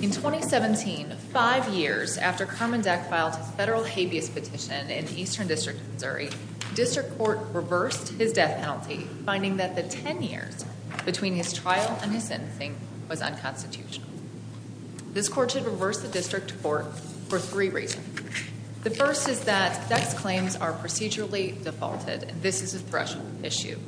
In 2017, five years after Carman Deck filed his federal habeas petition in the Eastern District of Missouri, District Court reversed his death penalty, finding that the 10 years between his trial and his sentencing was unconstitutional. This court should reverse the district court for three reasons. The first is that Deck's claims are procedurally defaulted. This is a threshold issue.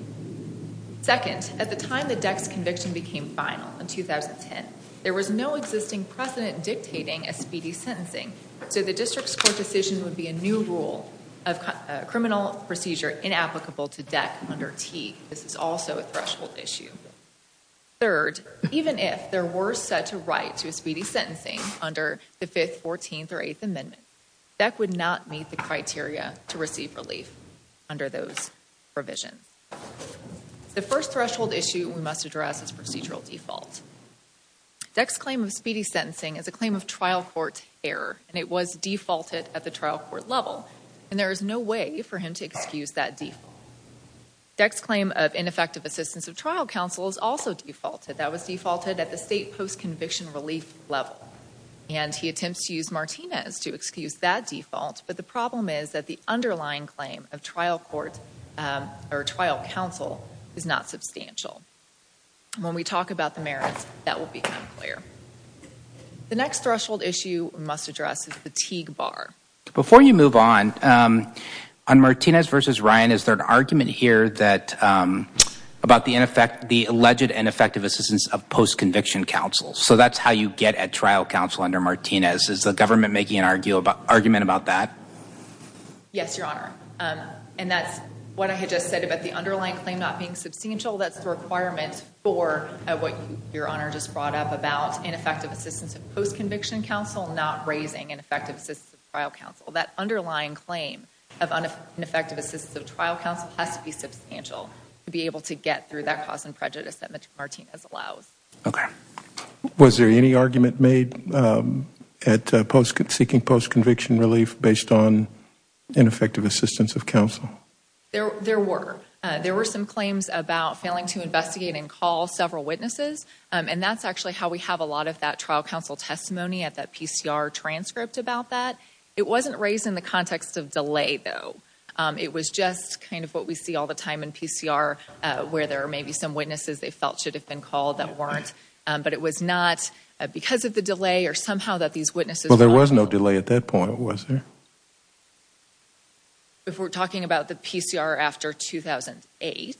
Second, at the time that Deck's conviction became final in 2010, there was no existing precedent dictating a speedy sentencing, so the district's court decision would be a new rule of criminal procedure inapplicable to Deck under T. This is also a threshold issue. Third, even if there were such a right to a speedy sentencing under the 5th, 14th, or 8th Amendment, Deck would not meet the criteria to receive relief under those provisions. The first threshold issue we must address is procedural default. Deck's claim of speedy sentencing is a claim of trial court error, and it was defaulted at the trial court level, and there is no way for him to excuse that default. Deck's claim of ineffective assistance of trial counsel is also defaulted. That was defaulted at the state post-conviction relief level, and he attempts to use Martinez to excuse that default, but the problem is that the underlying claim of trial court, or trial counsel, is not substantial. When we talk about the merits, that will become clear. The next threshold issue we must address is fatigue bar. Before you move on, on Martinez v. Ryan, is there an argument here about the alleged ineffective assistance of post-conviction counsel? So that's how you get at trial counsel under Martinez. Is the government making an argument about that? Yes, Your Honor, and that's what I had just said about the underlying claim not being substantial. That's the requirement for what Your Honor just brought up about ineffective assistance of post-conviction counsel not raising ineffective assistance of trial counsel. That underlying claim of ineffective assistance of trial counsel has to be substantial to be able to get through that cause and prejudice that Martinez allows. Okay. Was there any argument made at seeking post-conviction relief based on ineffective assistance of counsel? There were. There were some claims about failing to investigate and call several witnesses, and that's actually how we have a lot of that trial counsel testimony at that PCR transcript about that. It wasn't raised in the context of delay, though. It was just kind of what we see all the time in PCR, where there are maybe some witnesses they felt should have been called that weren't, but it was not because of the delay or somehow that these witnesses were not called. Well, there was no delay at that point, was there? If we're talking about the PCR after 2008,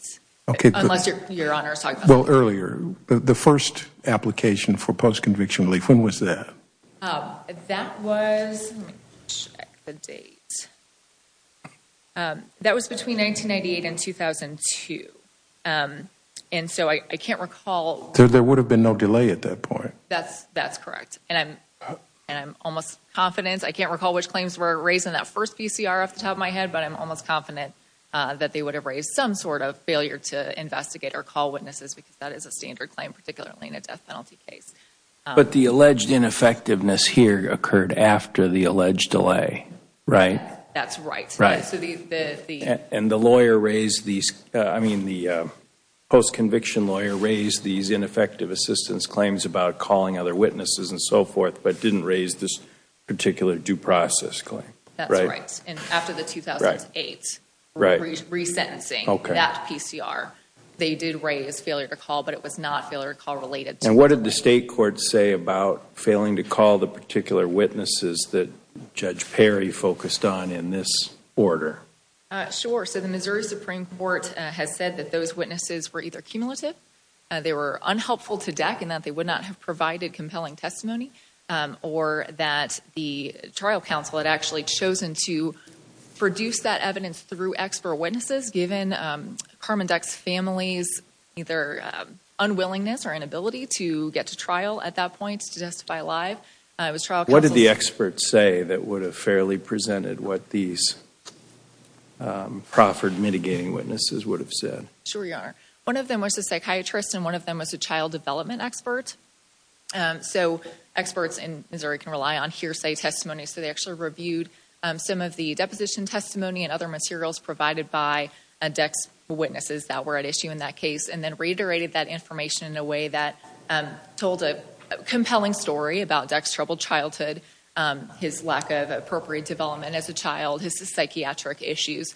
unless Your Honor is talking about earlier. The first application for post-conviction relief, when was that? That was, let me check the date. That was between 1998 and 2002, and so I can't recall. There would have been no delay at that point. That's correct, and I'm almost confident. I can't recall which claims were raised in that first PCR off the top of my head, but I'm almost confident that they would have raised some sort of failure to investigate or call witnesses, because that is a standard claim, particularly in a death penalty case. But the alleged ineffectiveness here occurred after the alleged delay, right? That's right. And the lawyer raised these, I mean the post-conviction lawyer raised these ineffective assistance claims about calling other witnesses and so forth, but didn't raise this particular due process claim. That's right, and after the 2008 resentencing, that PCR, they did raise failure to call, but it was not failure to call related. And what did the state court say about failing to call the particular witnesses that Judge Perry focused on in this order? Sure, so the Missouri Supreme Court has said that those witnesses were either cumulative, they were unhelpful to deck in that they would not have provided compelling testimony, or that the trial counsel had actually chosen to produce that evidence through expert witnesses, given Carmen Duck's family's either unwillingness or inability to get to trial at that point, to testify live. It was trial counsel... What did the experts say that would have fairly presented what these proffered mitigating witnesses would have said? Sure, Your Honor. One of them was a psychiatrist and one of them was a child development expert. So experts in Missouri can rely on hearsay testimony, so they actually reviewed some of the deposition testimony and other materials provided by Duck's witnesses that were at issue in that case, and then reiterated that information in a way that told a compelling story about Duck's troubled childhood, his lack of appropriate development as a child, his psychiatric issues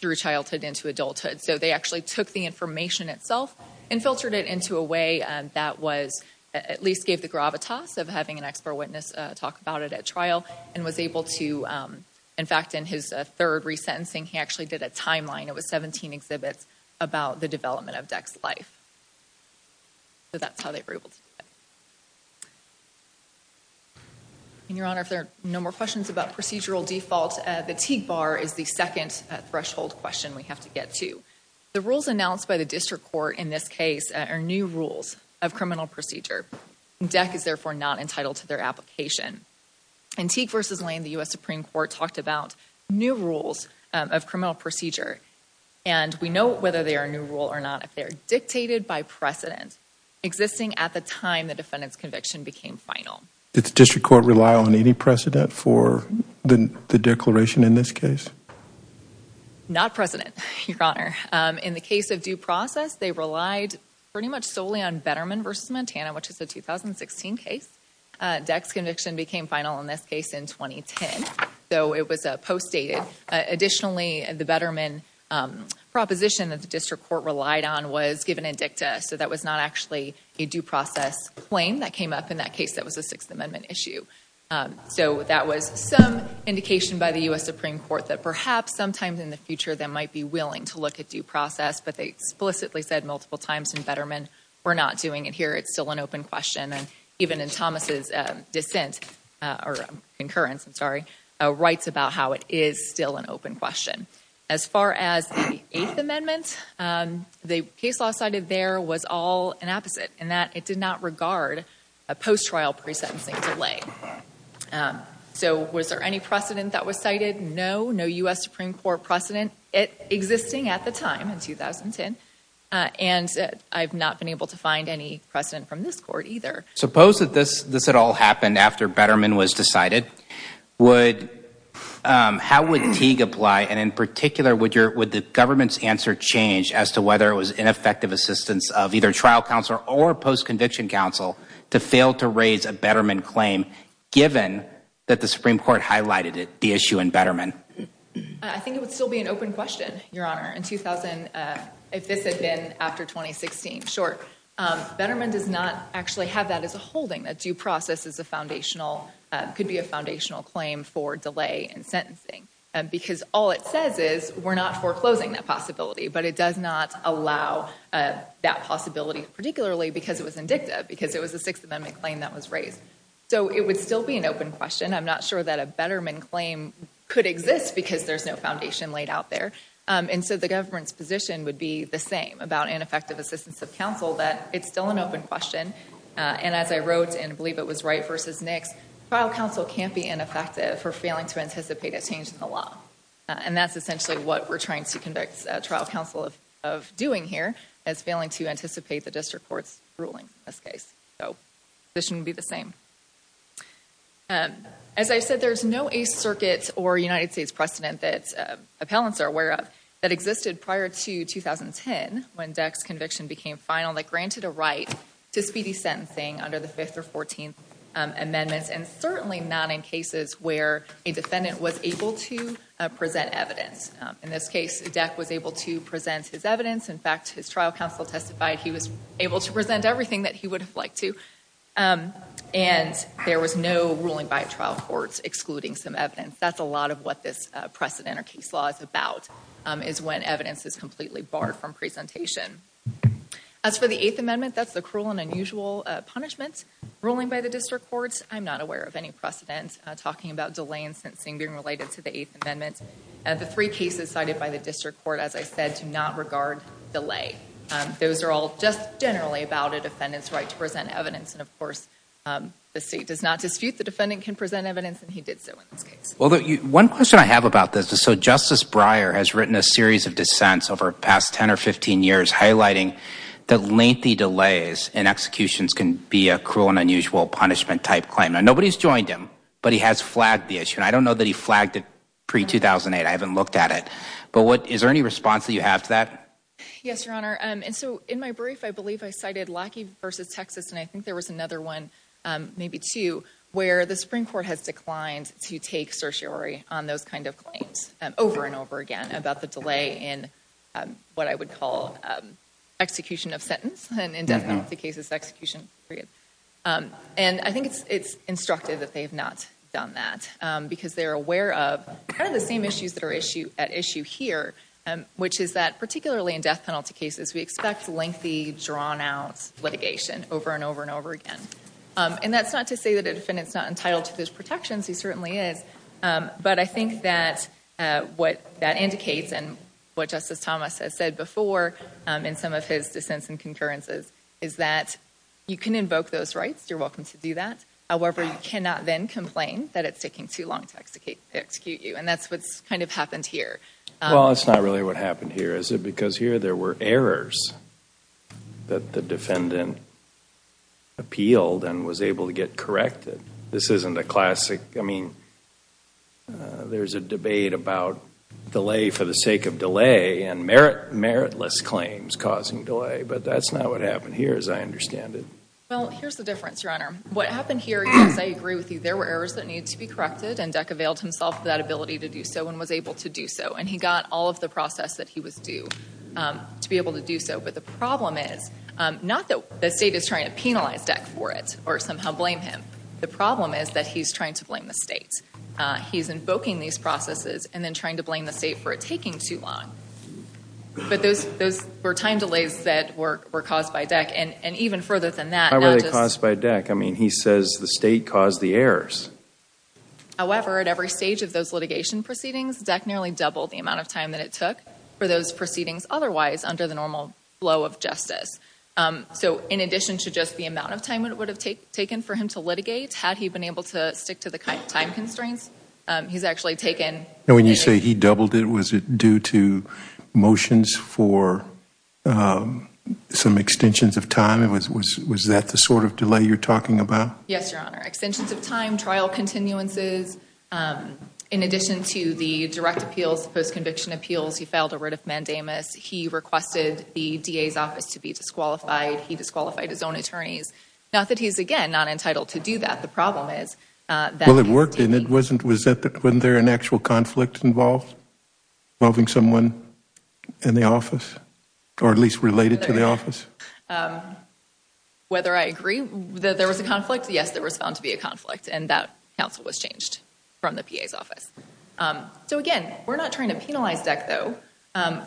through childhood into adulthood. So they actually took the information itself and filtered it into a way that at least gave the gravitas of having an expert witness talk about it at trial, and was able to, in fact, in his third resentencing, he actually did a timeline. It was 17 exhibits about the development of Duck's life. So that's how they were able to do it. And Your Honor, if there are no more questions about procedural default, the Teague Bar is the second threshold question we have to get to. The rules announced by the district court in this case are new rules of criminal procedure. Duck is therefore not entitled to their application. In Teague v. Lane, the U.S. Supreme Court talked about new rules of criminal procedure, and we know whether they are a new rule or not if they're dictated by precedent existing at the time the defendant's conviction became final. Did the district court rely on any precedent for the declaration in this case? Not precedent, Your Honor. In the case of due process, they relied pretty much solely on Betterman v. Montana, a 2016 case. Duck's conviction became final in this case in 2010, though it was postdated. Additionally, the Betterman proposition that the district court relied on was given in dicta, so that was not actually a due process claim that came up in that case that was a Sixth Amendment issue. So that was some indication by the U.S. Supreme Court that perhaps sometimes in the future, they might be willing to look at due process, but they explicitly said multiple times in Betterman, we're not doing it here, it's still an open question. And even in Thomas' dissent, or concurrence, I'm sorry, writes about how it is still an open question. As far as the Eighth Amendment, the case law cited there was all an opposite in that it did not regard a post-trial pre-sentencing delay. So was there any precedent that was cited? No, no U.S. Supreme Court precedent existing at the time in 2010. And I've not been able to find any precedent from this court either. Suppose that this at all happened after Betterman was decided, how would Teague apply? And in particular, would the government's answer change as to whether it was ineffective assistance of either trial counsel or post-conviction counsel to fail to raise a Betterman claim, given that the Supreme Court highlighted the issue in Betterman? I think it would still be an open question, Your Honor. In 2000, if this had been after 2016, sure. Betterman does not actually have that as a holding. A due process is a foundational, could be a foundational claim for delay in sentencing. Because all it says is, we're not foreclosing that possibility. But it does not allow that possibility, particularly because it was indicative. Because it was a Sixth Amendment claim that was raised. So it would still be an open question. I'm not sure that a Betterman claim could exist because there's no foundation laid out there. And so the government's position would be the same about ineffective assistance of counsel, that it's still an open question. And as I wrote, and I believe it was Wright versus Nix, trial counsel can't be ineffective for failing to anticipate a change in the law. And that's essentially what we're trying to conduct trial counsel of doing here, is failing to anticipate the district court's ruling in this case. So the position would be the same. As I said, there's no Eighth Circuit or United States precedent that existed prior to 2010, when Deck's conviction became final, that granted a right to speedy sentencing under the Fifth or Fourteenth Amendments. And certainly not in cases where a defendant was able to present evidence. In this case, Deck was able to present his evidence. In fact, his trial counsel testified he was able to present everything that he would have liked to. And there was no ruling by a trial court excluding some evidence. That's a lot of what this precedent or case law is about. Is when evidence is completely barred from presentation. As for the Eighth Amendment, that's the cruel and unusual punishment ruling by the district court. I'm not aware of any precedent talking about delay in sentencing being related to the Eighth Amendment. And the three cases cited by the district court, as I said, do not regard delay. Those are all just generally about a defendant's right to present evidence. And of course, the state does not dispute the defendant can present evidence, and he did so in this case. One question I have about this is, so Justice Breyer has written a series of dissents over the past 10 or 15 years highlighting that lengthy delays in executions can be a cruel and unusual punishment type claim. Now, nobody's joined him, but he has flagged the issue. And I don't know that he flagged it pre-2008. I haven't looked at it. But is there any response that you have to that? Yes, Your Honor. And so in my brief, I believe I cited Lackey v. Texas. And I think there was another one, maybe two, where the Supreme Court has declined to take certiorari on those kind of claims over and over again about the delay in what I would call execution of sentence, and in death penalty cases, execution period. And I think it's instructive that they have not done that because they're aware of kind of the same issues that are at issue here, which is that particularly in death penalty cases, we expect lengthy, drawn-out litigation over and over and over again. And that's not to say that a defendant's not entitled to those protections. He certainly is. But I think that what that indicates, and what Justice Thomas has said before in some of his dissents and concurrences, is that you can invoke those rights. You're welcome to do that. However, you cannot then complain that it's taking too long to execute you. And that's what's kind of happened here. Well, that's not really what happened here, is it? Because here there were errors that the defendant appealed and was able to get corrected. This isn't a classic, I mean, there's a debate about delay for the sake of delay, and meritless claims causing delay. But that's not what happened here, as I understand it. Well, here's the difference, Your Honor. What happened here is, I agree with you, there were errors that needed to be corrected, and Deck availed himself of that ability to do so and was able to do so. And he got all of the process that he was due to be able to do so. But the problem is, not that the state is trying to penalize Deck for it or somehow blame him. The problem is that he's trying to blame the state. He's invoking these processes and then trying to blame the state for it taking too long. But those were time delays that were caused by Deck. And even further than that— How were they caused by Deck? I mean, he says the state caused the errors. However, at every stage of those litigation proceedings, Deck nearly doubled the amount of time that it took for those proceedings otherwise under the normal flow of justice. So in addition to just the amount of time it would have taken for him to litigate, had he been able to stick to the time constraints, he's actually taken— And when you say he doubled it, was it due to motions for some extensions of time? Was that the sort of delay you're talking about? Yes, Your Honor. Extensions of time, trial continuances. In addition to the direct appeals, post-conviction appeals, he failed a writ of mandamus. He requested the DA's office to be disqualified. He disqualified his own attorneys. Not that he's, again, not entitled to do that. The problem is that— Well, it worked and it wasn't— Was there an actual conflict involved involving someone in the office? Or at least related to the office? Whether I agree that there was a conflict, yes, there was found to be a conflict. And that counsel was changed from the PA's office. So again, we're not trying to penalize Deck though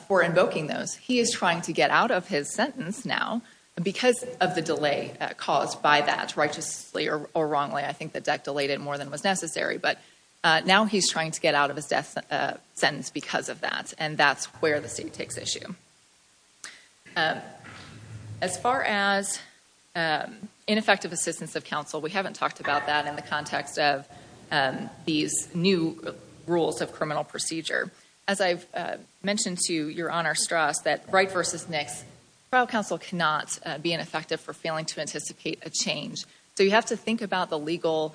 for invoking those. He is trying to get out of his sentence now because of the delay caused by that, righteously or wrongly. I think that Deck delayed it more than was necessary. But now he's trying to get out of his death sentence because of that. And that's where the state takes issue. As far as ineffective assistance of counsel, we haven't talked about that in the context of these new rules of criminal procedure. As I've mentioned to Your Honor Strauss, that Wright v. Nix, trial counsel cannot be ineffective for failing to anticipate a change. So you have to think about the legal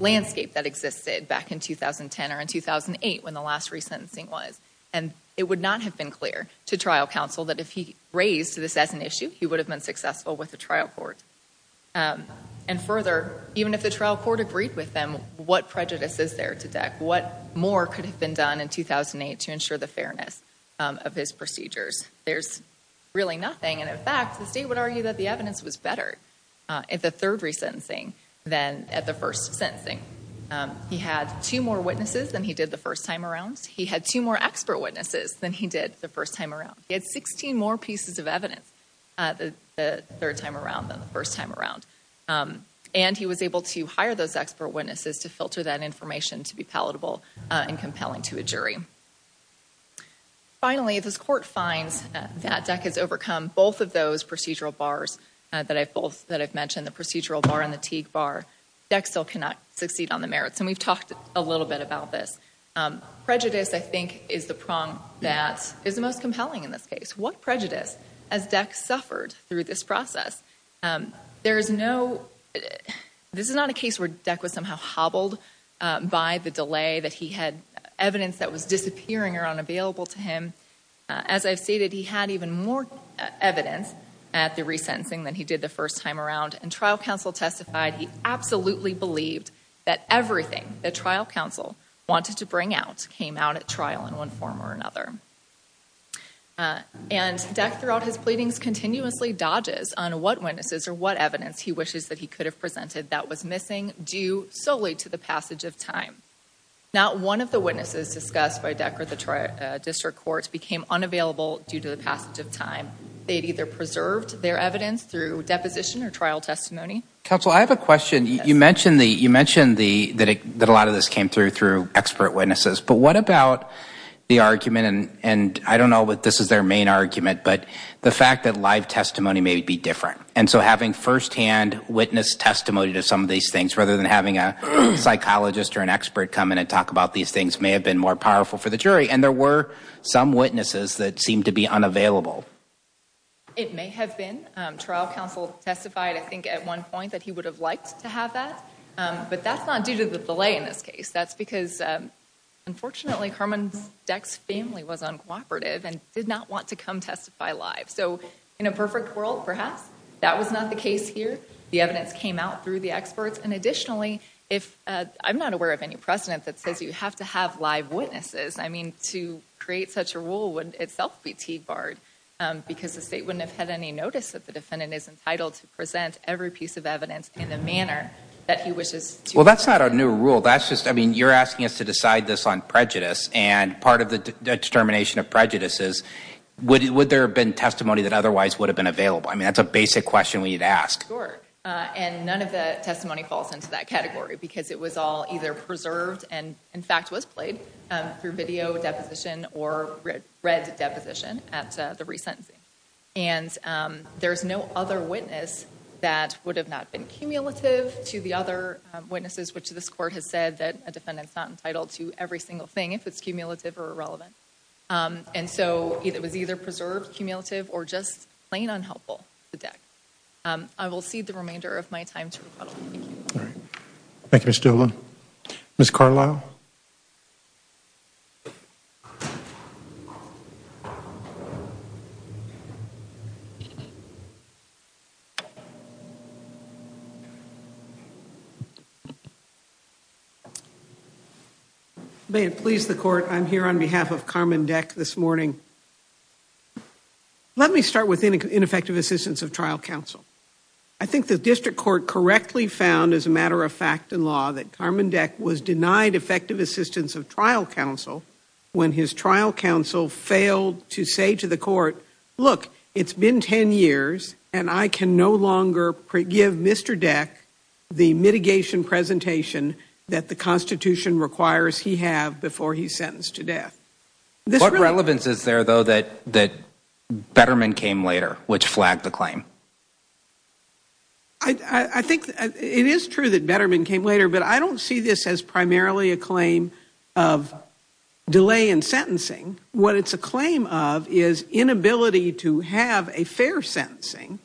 landscape that existed back in 2010 or in 2008 when the last resentencing was. And it would not have been clear to trial counsel that if he raised this as an issue, he would have been successful with the trial court. And further, even if the trial court agreed with them, what prejudice is there to Deck? What more could have been done in 2008 to ensure the fairness of his procedures? There's really nothing. And in fact, the state would argue that the evidence was better at the third resentencing than at the first sentencing. He had two more witnesses than he did the first time around. He had two more expert witnesses than he did the first time around. He had 16 more pieces of evidence the third time around than the first time around. And he was able to hire those expert witnesses to filter that information to be palatable and compelling to a jury. Finally, if this court finds that Deck has overcome both of those procedural bars that I've mentioned, the procedural bar and the Teague bar, Deck still cannot succeed on the merits. And we've talked a little bit about this. Prejudice, I think, is the prong that is the most compelling in this case. What prejudice has Deck suffered through this process? There is no—this is not a case where Deck was somehow hobbled by the delay that he had evidence that was disappearing or unavailable to him. As I've stated, he had even more evidence at the resentencing than he did the first time around. And trial counsel testified he absolutely believed that everything that trial counsel wanted to bring out came out at trial in one form or another. And Deck, throughout his pleadings, continuously dodges on what witnesses or what evidence he wishes that he could have presented that was missing due solely to the passage of time. Not one of the witnesses discussed by Deck or the district courts became unavailable due to the passage of time. They'd either preserved their evidence through deposition or trial testimony. Counsel, I have a question. You mentioned that a lot of this came through expert witnesses. But what about the argument—and I don't know that this is their main argument— but the fact that live testimony may be different. And so having firsthand witness testimony to some of these things, rather than having a psychologist or an expert come in and talk about these things, may have been more powerful for the jury. And there were some witnesses that seemed to be unavailable. It may have been. Trial counsel testified, I think, at one point that he would have liked to have that. But that's not due to the delay in this case. That's because, unfortunately, Herman Deck's family was uncooperative and did not want to come testify live. So in a perfect world, perhaps, that was not the case here. The evidence came out through the experts. Additionally, I'm not aware of any precedent that says you have to have live witnesses. I mean, to create such a rule wouldn't itself be T-barred, because the state wouldn't have had any notice that the defendant is entitled to present every piece of evidence in the manner that he wishes to. Well, that's not a new rule. That's just—I mean, you're asking us to decide this on prejudice. And part of the determination of prejudice is, would there have been testimony that otherwise would have been available? I mean, that's a basic question we need to ask. And none of the testimony falls into that category, because it was all either preserved and, in fact, was played through video deposition or read deposition at the resentencing. And there's no other witness that would have not been cumulative to the other witnesses, which this Court has said that a defendant's not entitled to every single thing if it's cumulative or irrelevant. And so it was either preserved, cumulative, or just plain unhelpful to Deck. I will cede the remainder of my time to rebuttal. Thank you. All right. Thank you, Ms. Doolin. Ms. Carlisle? May it please the Court, I'm here on behalf of Carmen Deck this morning. Let me start with ineffective assistance of trial counsel. I think the District Court correctly found, as a matter of fact and law, that Carmen Deck was denied effective assistance of trial counsel when his trial counsel failed to say to the Court, look, it's been 10 years, and I can no longer give Mr. Deck the mitigation presentation that the Constitution requires he have before he's sentenced to death. What relevance is there, though, that Betterman came later, which flagged the claim? It is true that Betterman came later, but I don't see this as primarily a claim of delay in sentencing. What it's a claim of is inability to have a fair sentencing,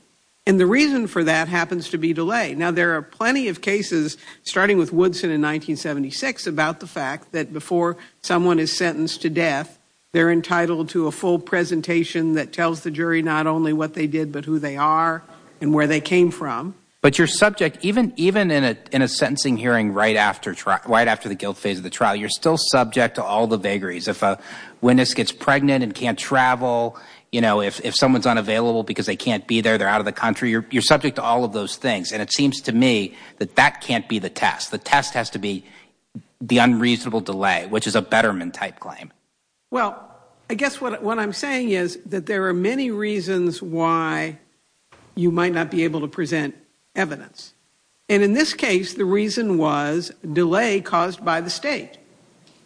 and the reason for that happens to be delay. Now, there are plenty of cases, starting with Woodson in 1976, about the fact that before someone is sentenced to death, they're entitled to a full presentation that tells the jury not only what they did, but who they are and where they came from. But your subject, even in a sentencing hearing right after trial, right after the guilt phase of the trial, you're still subject to all the vagaries. If a witness gets pregnant and can't travel, you know, if someone's unavailable because they can't be there, they're out of the country, you're subject to all of those things, and it seems to me that that can't be the test. The test has to be the unreasonable delay, which is a Betterman-type claim. Well, I guess what I'm saying is that there are many reasons why you might not be able to present evidence. And in this case, the reason was delay caused by the state,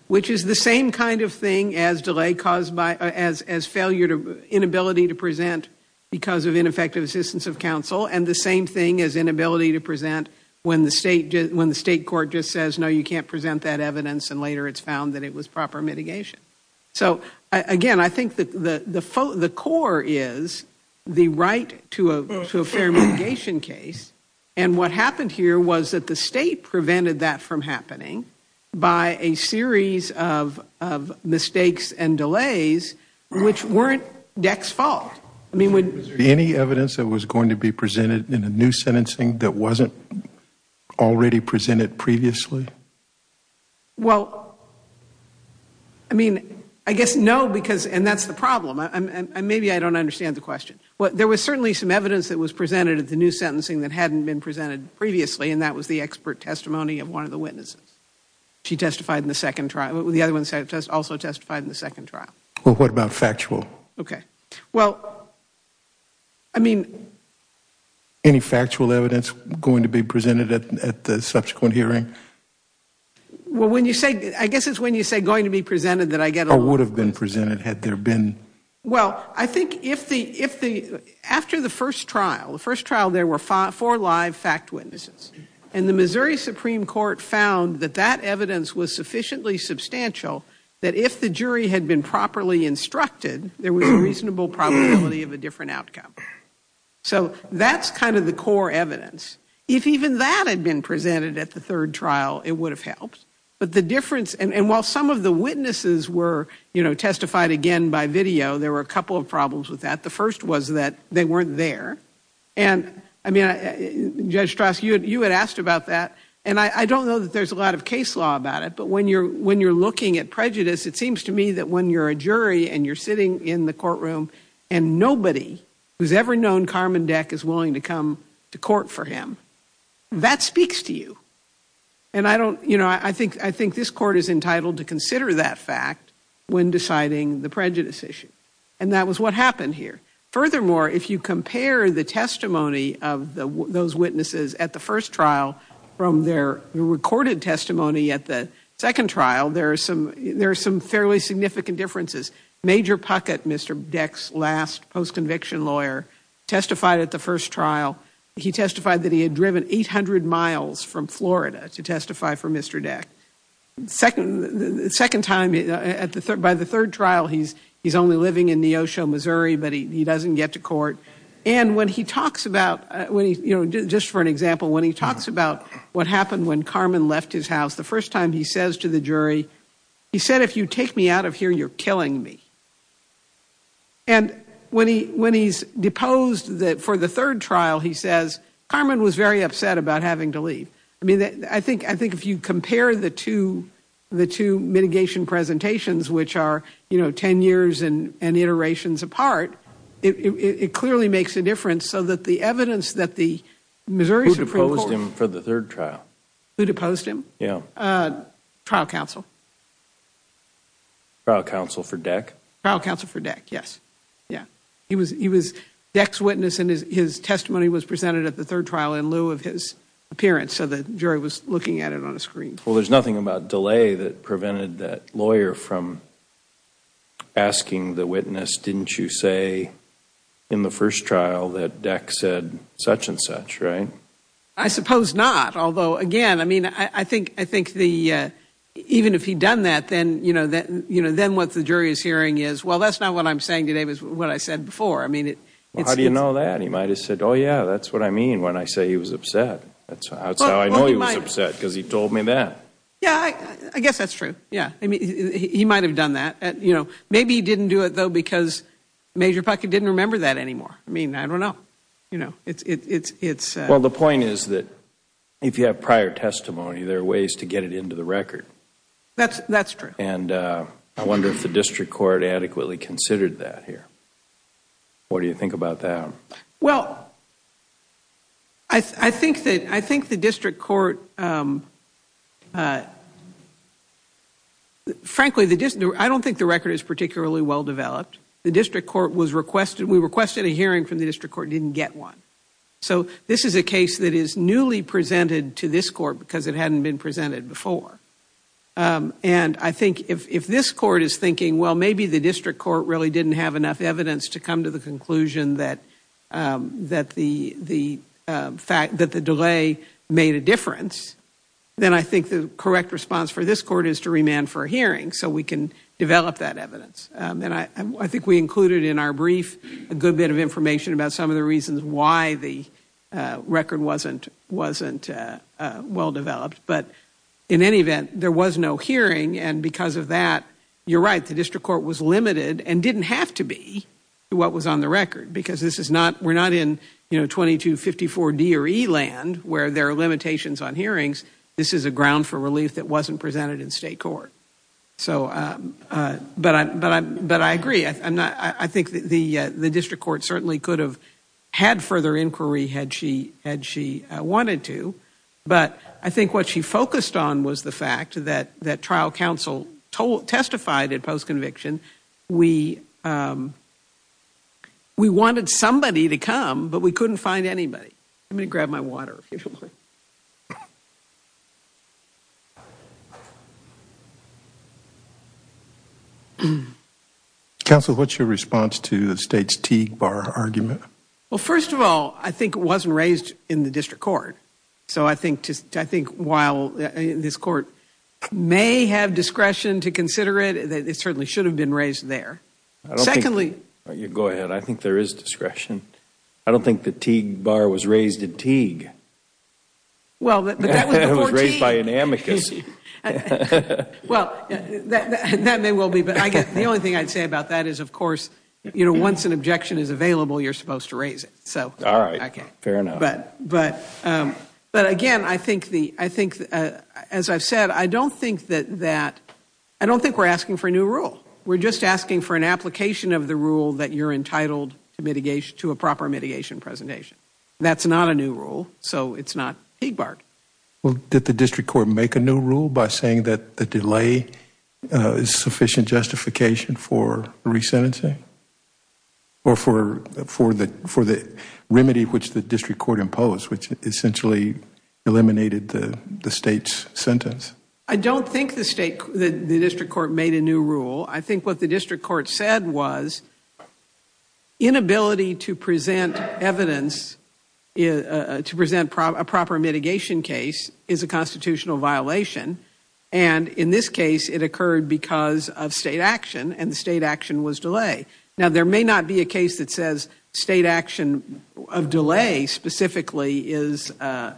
which is the same kind of thing as delay caused by, as failure to, inability to present because of ineffective assistance of counsel, and the same thing as inability to present when the state, when the state court just says, no, you can't present that evidence, and later it's found that it was proper mitigation. So, again, I think that the core is the right to a fair mitigation case, and what happened here was that the state prevented that from happening by a series of mistakes and delays, which weren't DEC's fault. I mean, would there be any evidence that was going to be presented in a new sentencing that wasn't already presented previously? Well, I mean, I guess no, because, and that's the problem, and maybe I don't understand the question. There was certainly some evidence that was presented at the new sentencing that hadn't been presented previously, and that was the expert testimony of one of the witnesses. She testified in the second trial, the other one also testified in the second trial. Well, what about factual? Okay, well, I mean... Any factual evidence going to be presented at the subsequent hearing? Well, when you say, I guess it's when you say going to be presented that I get... Or would have been presented had there been... Well, I think if the, after the first trial, the first trial there were four live fact witnesses, and the Missouri Supreme Court found that that evidence was sufficiently substantial that if the jury had been properly instructed, there was a reasonable probability of a different outcome. So that's kind of the core evidence. If even that had been presented at the third trial, it would have helped. But the difference, and while some of the witnesses were, you know, testified again by video, there were a couple of problems with that. The first was that they weren't there. And, I mean, Judge Strass, you had asked about that, and I don't know that there's a lot of case law about it, but when you're looking at prejudice, it seems to me that when you're a jury and you're sitting in the courtroom and nobody who's ever known Carmen Deck is willing to come to court for him, that speaks to you. And I don't, you know, I think this court is entitled to consider that fact when deciding the prejudice issue. And that was what happened here. Furthermore, if you compare the testimony of those witnesses at the first trial from their recorded testimony at the second trial, there are some fairly significant differences. Major Puckett, Mr. Deck's last post-conviction lawyer, testified at the first trial. He testified that he had driven 800 miles from Florida to testify for Mr. Deck. Second time, by the third trial, he's only living in Neosho, Missouri, but he doesn't get to court. And when he talks about, you know, just for an example, when he talks about what happened when Carmen left his house, the first time he says to the jury, he said, if you take me out of here, you're killing me. And when he's deposed for the third trial, he says, Carmen was very upset about having to leave. I mean, I think if you compare the two mitigation presentations, which are, you know, 10 years and iterations apart, it clearly makes a difference. So that the evidence that the Missouri Supreme Court— Who deposed him for the third trial? Who deposed him? Yeah. Trial counsel. Trial counsel for Deck? Trial counsel for Deck, yes. Yeah. He was Deck's witness, and his testimony was presented at the third trial in lieu of his appearance, so the jury was looking at it on a screen. Well, there's nothing about delay that prevented that lawyer from asking the witness, didn't you say in the first trial that Deck said such and such, right? I suppose not. Although, again, I mean, I think even if he'd done that, then what the jury is hearing is, well, that's not what I'm saying today, but what I said before. Well, how do you know that? He might have said, oh, yeah, that's what I mean when I say he was upset. That's how I know he was upset, because he told me that. Yeah, I guess that's true. Yeah, I mean, he might have done that. Maybe he didn't do it, though, because Major Puckett didn't remember that anymore. I mean, I don't know. Well, the point is that if you have prior testimony, there are ways to get it into the record. That's true. And I wonder if the district court adequately considered that here. What do you think about that? Well, I think the district court, frankly, I don't think the record is particularly well developed. The district court was requested, we requested a hearing from the district court, didn't get one. So this is a case that is newly presented to this court because it hadn't been presented before. And I think if this court is thinking, well, maybe the district court really didn't have enough evidence to come to the conclusion that the delay made a difference, then I think the correct response for this court is to remand for a hearing so we can develop that evidence. And I think we included in our brief a good bit of information about some of the reasons why the record wasn't well developed. But in any event, there was no hearing. And because of that, you're right, the district court was limited and didn't have to be what was on the record because we're not in 2254 D or E land where there are limitations on hearings. This is a ground for relief that wasn't presented in state court. So, but I agree. I think the district court certainly could have had further inquiry had she wanted to. But I think what she focused on was the fact that trial counsel testified at post-conviction. We wanted somebody to come, but we couldn't find anybody. I'm going to grab my water. Counsel, what's your response to the state's Teague Bar argument? Well, first of all, I think it wasn't raised in the district court. So I think while this court may have discretion to consider it, it certainly should have been raised there. Secondly, you go ahead. I think there is discretion. I don't think the Teague Bar was raised in Teague. Well, but that was raised by an amicus. Well, that may well be, but I guess the only thing I'd say about that is, of course, you know, once an objection is available, you're supposed to raise it. So, all right. Okay, fair enough. But, but, but again, I think the, I think, as I've said, I don't think that that, I don't think we're asking for a new rule. We're just asking for an application of the rule that you're entitled to mitigation to a proper mitigation presentation. That's not a new rule. So it's not Teague Bar. Well, did the district court make a new rule by saying that the delay is sufficient justification for resentencing? Or for, for the, for the remedy which the district court imposed, which essentially eliminated the state's sentence? I don't think the state, the district court made a new rule. I think what the district court said was inability to present evidence, is to present a proper mitigation case is a constitutional violation. And in this case, it occurred because of state action and the state action was delay. Now, there may not be a case that says state action of delay specifically is,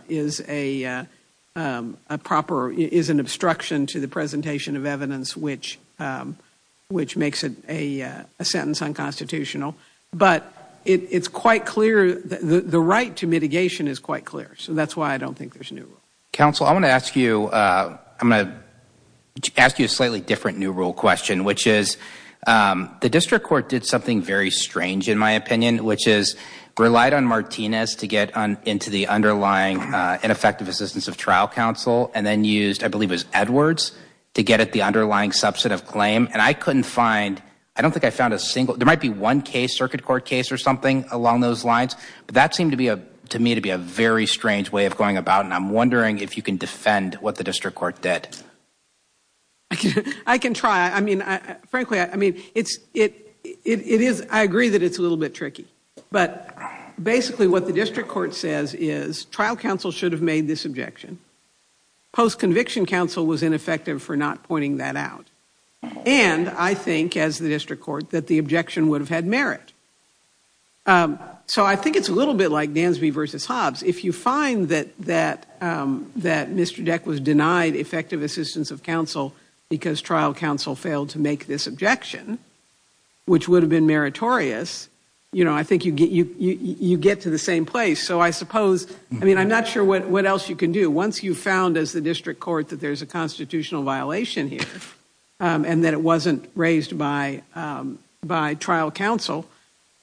is a proper, is an obstruction to the presentation of evidence, which, which makes it a sentence unconstitutional. But it's quite clear that the right to mitigation is quite clear. So that's why I don't think there's a new rule. Counsel, I want to ask you, I'm going to ask you a slightly different new rule question, which is the district court did something very strange in my opinion, which is relied on Martinez to get on into the underlying ineffective assistance of trial counsel and then used, I believe it was Edwards to get at the underlying substantive claim. And I couldn't find, I don't think I found a single, there might be one case circuit court case or something along those lines, but that seemed to be a, to me to be a very strange way of going about. And I'm wondering if you can defend what the district court did. I can try. I mean, frankly, I mean, it's, it, it is, I agree that it's a little bit tricky, but basically what the district court says is trial counsel should have made this objection. Post-conviction counsel was ineffective for not pointing that out. And I think as the district court that the objection would have had merit. So I think it's a little bit like Dansby versus Hobbs. If you find that, that, that Mr. Deck was denied effective assistance of counsel because trial counsel failed to make this objection, which would have been meritorious, you know, I think you get, you, you, you get to the same place. So I suppose, I mean, I'm not sure what else you can do once you found as the district court that there's a constitutional violation here and that it wasn't raised by, by trial counsel.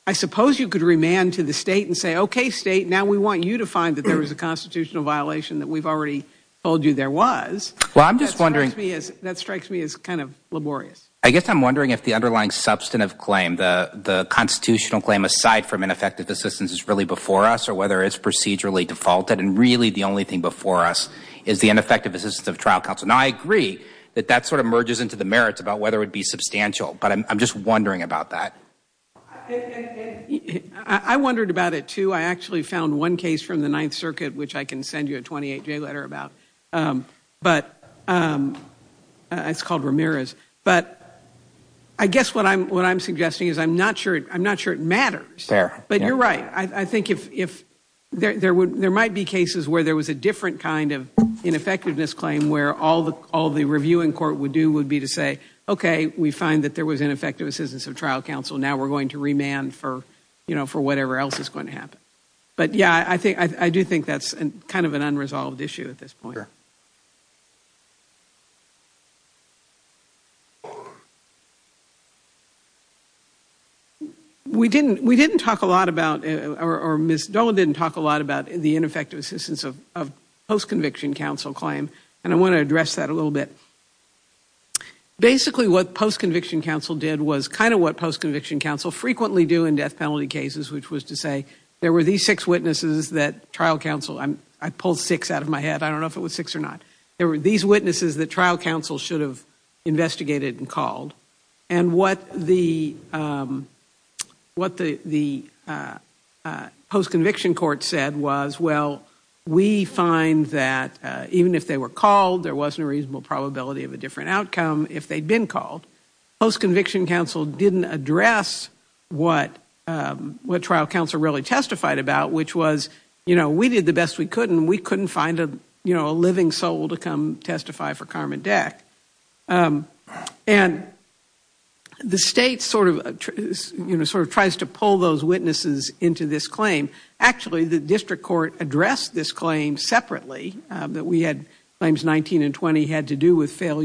I suppose you could remand to the state and say, okay, state, now we want you to find that there was a constitutional violation that we've already told you there was. Well, I'm just wondering, that strikes me as kind of laborious. I guess I'm wondering if the underlying substantive claim, the, the constitutional claim aside from ineffective assistance is really before us, or whether it's procedurally defaulted and really the only thing before us is the ineffective assistance of trial counsel. Now, I agree that that sort of merges into the merits about whether it would be substantial, but I'm just wondering about that. I wondered about it too. I actually found one case from the Ninth Circuit, which I can send you a 28-day letter about. But it's called Ramirez. But I guess what I'm, what I'm suggesting is I'm not sure, I'm not sure it matters. Fair. But you're right. I think if, if there, there would, there might be cases where there was a different kind of ineffectiveness claim where all the, all the reviewing court would do would be to say, okay, we find that there was ineffective assistance of trial counsel. Now we're going to remand for, you know, for whatever else is going to happen. But yeah, I think, I do think that's kind of an unresolved issue at this point. We didn't, we didn't talk a lot about, or Ms. Dolan didn't talk a lot about the ineffective assistance of, of post-conviction counsel claim. And I want to address that a little bit. Basically what post-conviction counsel did was kind of what post-conviction counsel frequently do in death penalty cases, which was to say there were these six witnesses that trial counsel, I pulled six out of my head. I don't know if it was six or not. There were these witnesses that trial counsel should have investigated and called. And what the, what the, the post-conviction court said was, well, we find that even if they were called, there wasn't a reasonable probability of a different outcome if they'd been called. Post-conviction counsel didn't address what, what trial counsel really testified about, which was, you know, we did the best we could, and we couldn't find a, you know, a living soul to come testify for Carmen Deck. And the state sort of, you know, sort of tries to pull those witnesses into this claim. Actually, the district court addressed this claim separately, that we had claims 19 and 20 had to do with this case. And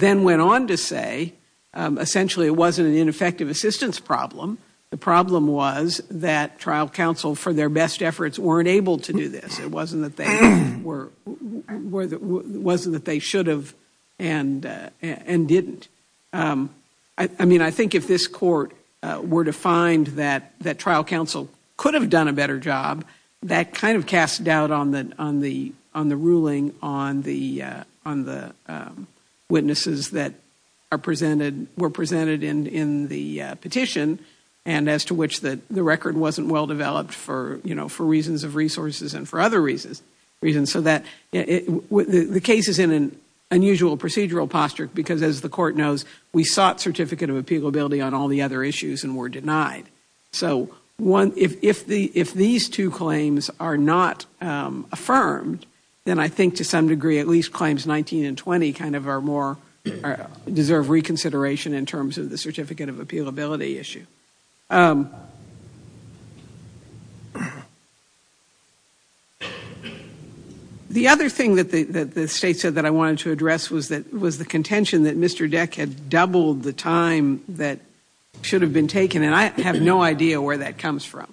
they went on to say, essentially, it wasn't an ineffective assistance problem. The problem was that trial counsel for their best efforts weren't able to do this. It wasn't that they were, it wasn't that they should have and didn't. I mean, I think if this court were to find that trial counsel could have done a better job, that kind of cast doubt on the ruling on the witnesses that were presented in the petition, and as to which the record wasn't well developed for reasons of resources and for other reasons. So the case is in an unusual procedural posture, because as the court knows, we sought certificate of appealability on all the other issues and were denied. So if these two claims are not affirmed, then I think to some degree, at least claims 19 and 20 kind of are more, deserve reconsideration in terms of the certificate of appealability issue. The other thing that the state said that I wanted to address was that was the contention that Mr. Deck had doubled the time that should have been taken, and I have no idea where that comes from.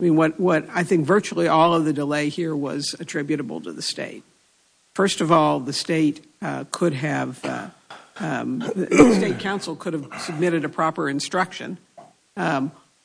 I mean, what I think virtually all of the delay here was attributable to the state. First of all, the state could have, the state counsel could have submitted a proper instruction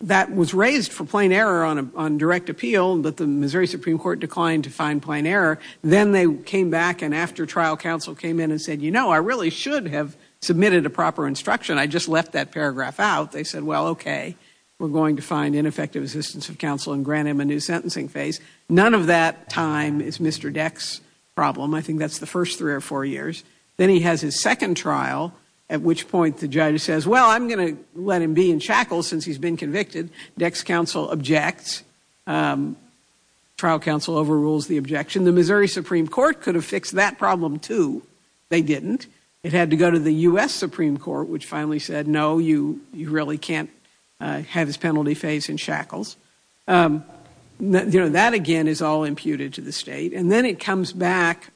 that was raised for plain error on direct appeal, but the Missouri Supreme Court declined to find plain error. Then they came back, and after trial counsel came in and said, you know, I really should have submitted a proper instruction, I just left that paragraph out. They said, well, okay, we're going to find ineffective assistance of counsel and grant him a new sentencing phase. None of that time is Mr. Deck's problem. I think that's the first three or four years. Then he has his second trial, at which point the judge says, well, I'm going to let him be in shackles since he's been convicted. Deck's counsel objects. Trial counsel overrules the objection. The Missouri Supreme Court could have fixed that problem, too. They didn't. It had to go to the U.S. Supreme Court, which finally said, no, you really can't have his penalty phase in is all imputed to the state. Then it comes back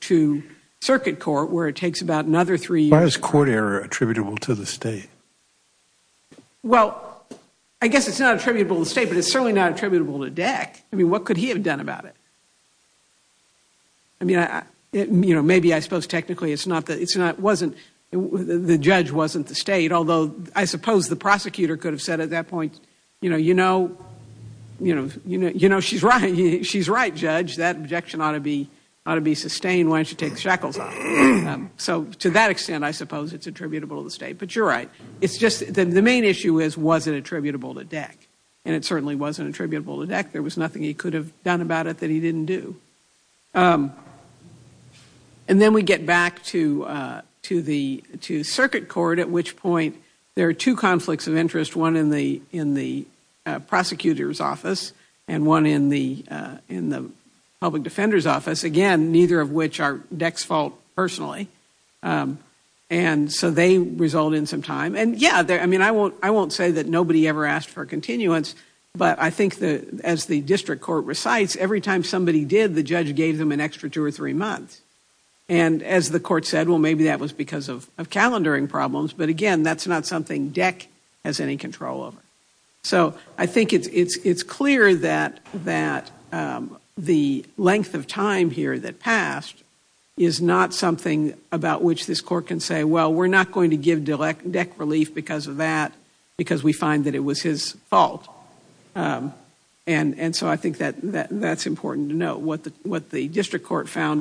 to circuit court, where it takes about another three years. Why is court error attributable to the state? Well, I guess it's not attributable to the state, but it's certainly not attributable to Deck. I mean, what could he have done about it? I mean, you know, maybe I suppose technically it's not, it wasn't, the judge wasn't the state, although I suppose the prosecutor could have said at that point, you know, you know, you know, you know, she's right, she's right, judge. That objection ought to be, ought to be sustained. Why don't you take the shackles off? So to that extent, I suppose it's attributable to the state. But you're right. It's just that the main issue is, was it attributable to Deck? And it certainly wasn't attributable to Deck. There was nothing he could have done about it that he didn't do. And then we get back to, to the, to circuit court, at which point there are two conflicts of interest, one in the, in the prosecutor's office and one in the, in the public defender's office. Again, neither of which are Deck's fault personally. And so they result in some time. And yeah, I mean, I won't, I won't say that nobody ever asked for a continuance, but I think that as the district court recites, every time somebody did, the judge gave them an extra two or three months. And as the court said, well, maybe that was because of, of calendaring problems. But again, that's not something Deck has any control over. So I think it's, it's, it's clear that, that the length of time here that passed is not something about which this court can say, well, we're not going to give Deck relief because of that, because we find that it was his fault. And, and so I think that, that, that's important to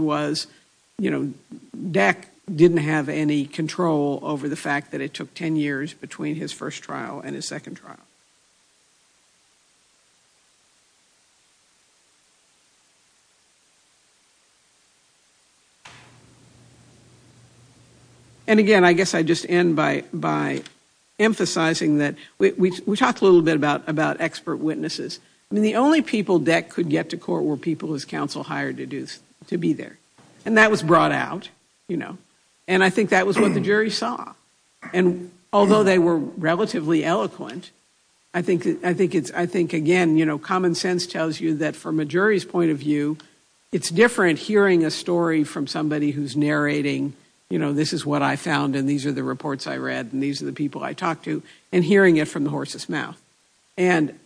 was, you know, Deck didn't have any control over the fact that it took 10 years between his first trial and his second trial. And again, I guess I just end by, by emphasizing that we talked a little bit about, about expert witnesses. I mean, the only people Deck could get to court were people his counsel hired to do, to be there. And that was brought out, you know, and I think that was what the jury saw. And although they were relatively eloquent, I think, I think it's, I think again, you know, common sense tells you that from a jury's point of view, it's different hearing a story from somebody who's narrating, you know, this is what I found and these are the reports I read and these are the people I talked to, and hearing it from the horse's mouth. And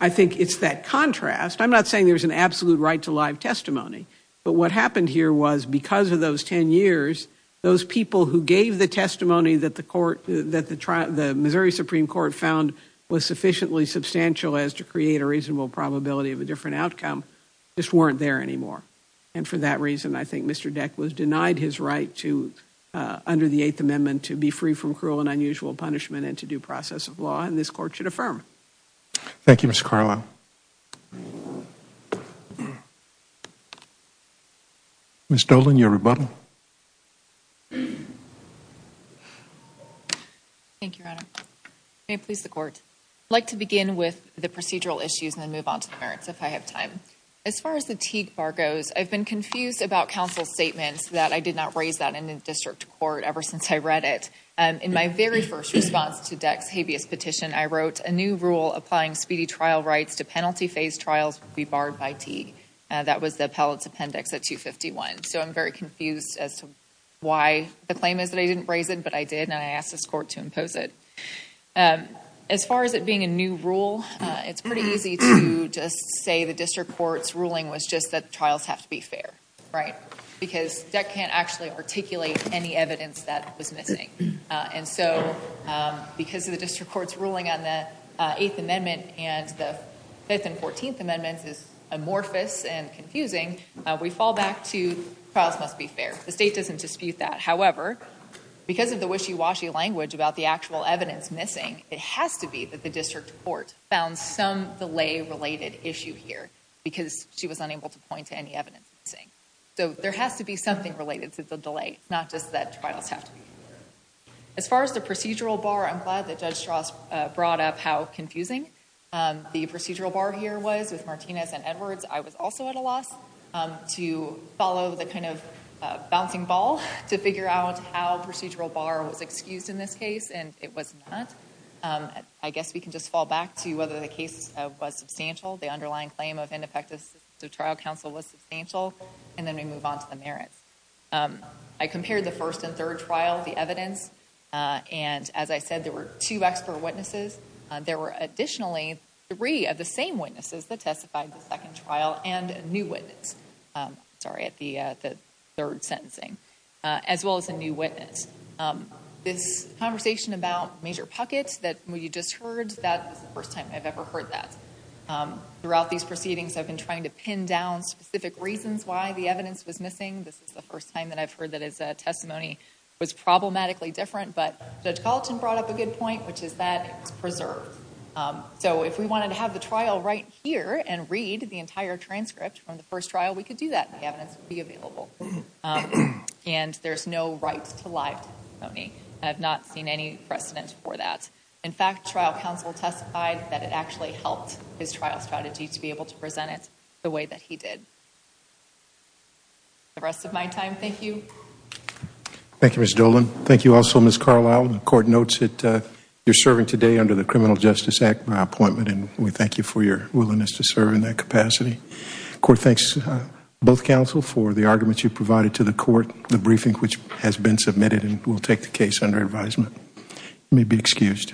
I think it's that contrast. I'm not saying there's an absolute right to live testimony, but what happened here was because of those 10 years, those people who gave the testimony that the court, that the trial, the Missouri Supreme Court found was sufficiently substantial as to create a reasonable probability of a different outcome, just weren't there anymore. And for that reason, I think Mr. Deck was denied his right to, under the Eighth Amendment, to be free from cruel and unusual punishment and to due process of law and this court should affirm. Thank you, Mr. Carlo. Ms. Dolan, your rebuttal. Thank you, Your Honor. May it please the court. I'd like to begin with the procedural issues and then move on to the merits if I have time. As far as the Teague Bar goes, I've been confused about counsel's statements that I did not raise that in the district court ever since I read it. In my very first response to Deck's habeas petition, I wrote, a new rule applying speedy trial rights to penalty phase trials will be barred by Teague. That was the appellate's appendix at 251. So I'm very confused as to why the claim is that I didn't raise it, but I did and I asked this court to impose it. As far as it being a new rule, it's pretty easy to just say the district court's ruling was just that trials have to be fair, because Deck can't actually articulate any evidence that was missing. And so, because of the district court's ruling on the 8th amendment and the 5th and 14th amendments is amorphous and confusing, we fall back to trials must be fair. The state doesn't dispute that. However, because of the wishy-washy language about the actual evidence missing, it has to be that the district court found some delay-related issue here because she was unable to point to any evidence missing. So there has to be something related to the delay, not just that trials have to be fair. As far as the procedural bar, I'm glad that Judge Strauss brought up how confusing the procedural bar here was with Martinez and Edwards. I was also at a loss to follow the kind of bouncing ball to figure out how procedural bar was excused in this case, and it was not. I guess we can just fall back to whether the case was substantial. The underlying claim of the trial counsel was substantial, and then we move on to the merits. I compared the first and third trial, the evidence, and as I said, there were two expert witnesses. There were additionally three of the same witnesses that testified in the second trial and a new witness, sorry, at the third sentencing, as well as a new witness. This conversation about major pockets that you just heard, that was the first time I've ever heard that. Throughout these proceedings, I've been trying to pin down specific reasons why the evidence was missing. This is the first time that I've heard that his testimony was problematically different, but Judge Gallatin brought up a good point, which is that it was preserved. So if we wanted to have the trial right here and read the entire transcript from the first trial, we could do that. The evidence would be available, and there's no right to live testimony. I have not seen any precedent for that. In fact, trial counsel testified that it actually helped his trial strategy to be able to present it the way that he did. The rest of my time, thank you. Thank you, Ms. Dolan. Thank you also, Ms. Carlisle. The court notes that you're serving today under the Criminal Justice Act by appointment, and we thank you for your willingness to serve in that capacity. The court thanks both counsel for the arguments you provided to the court, the briefing which has been submitted, and we'll take the case under advisement. You may be excused.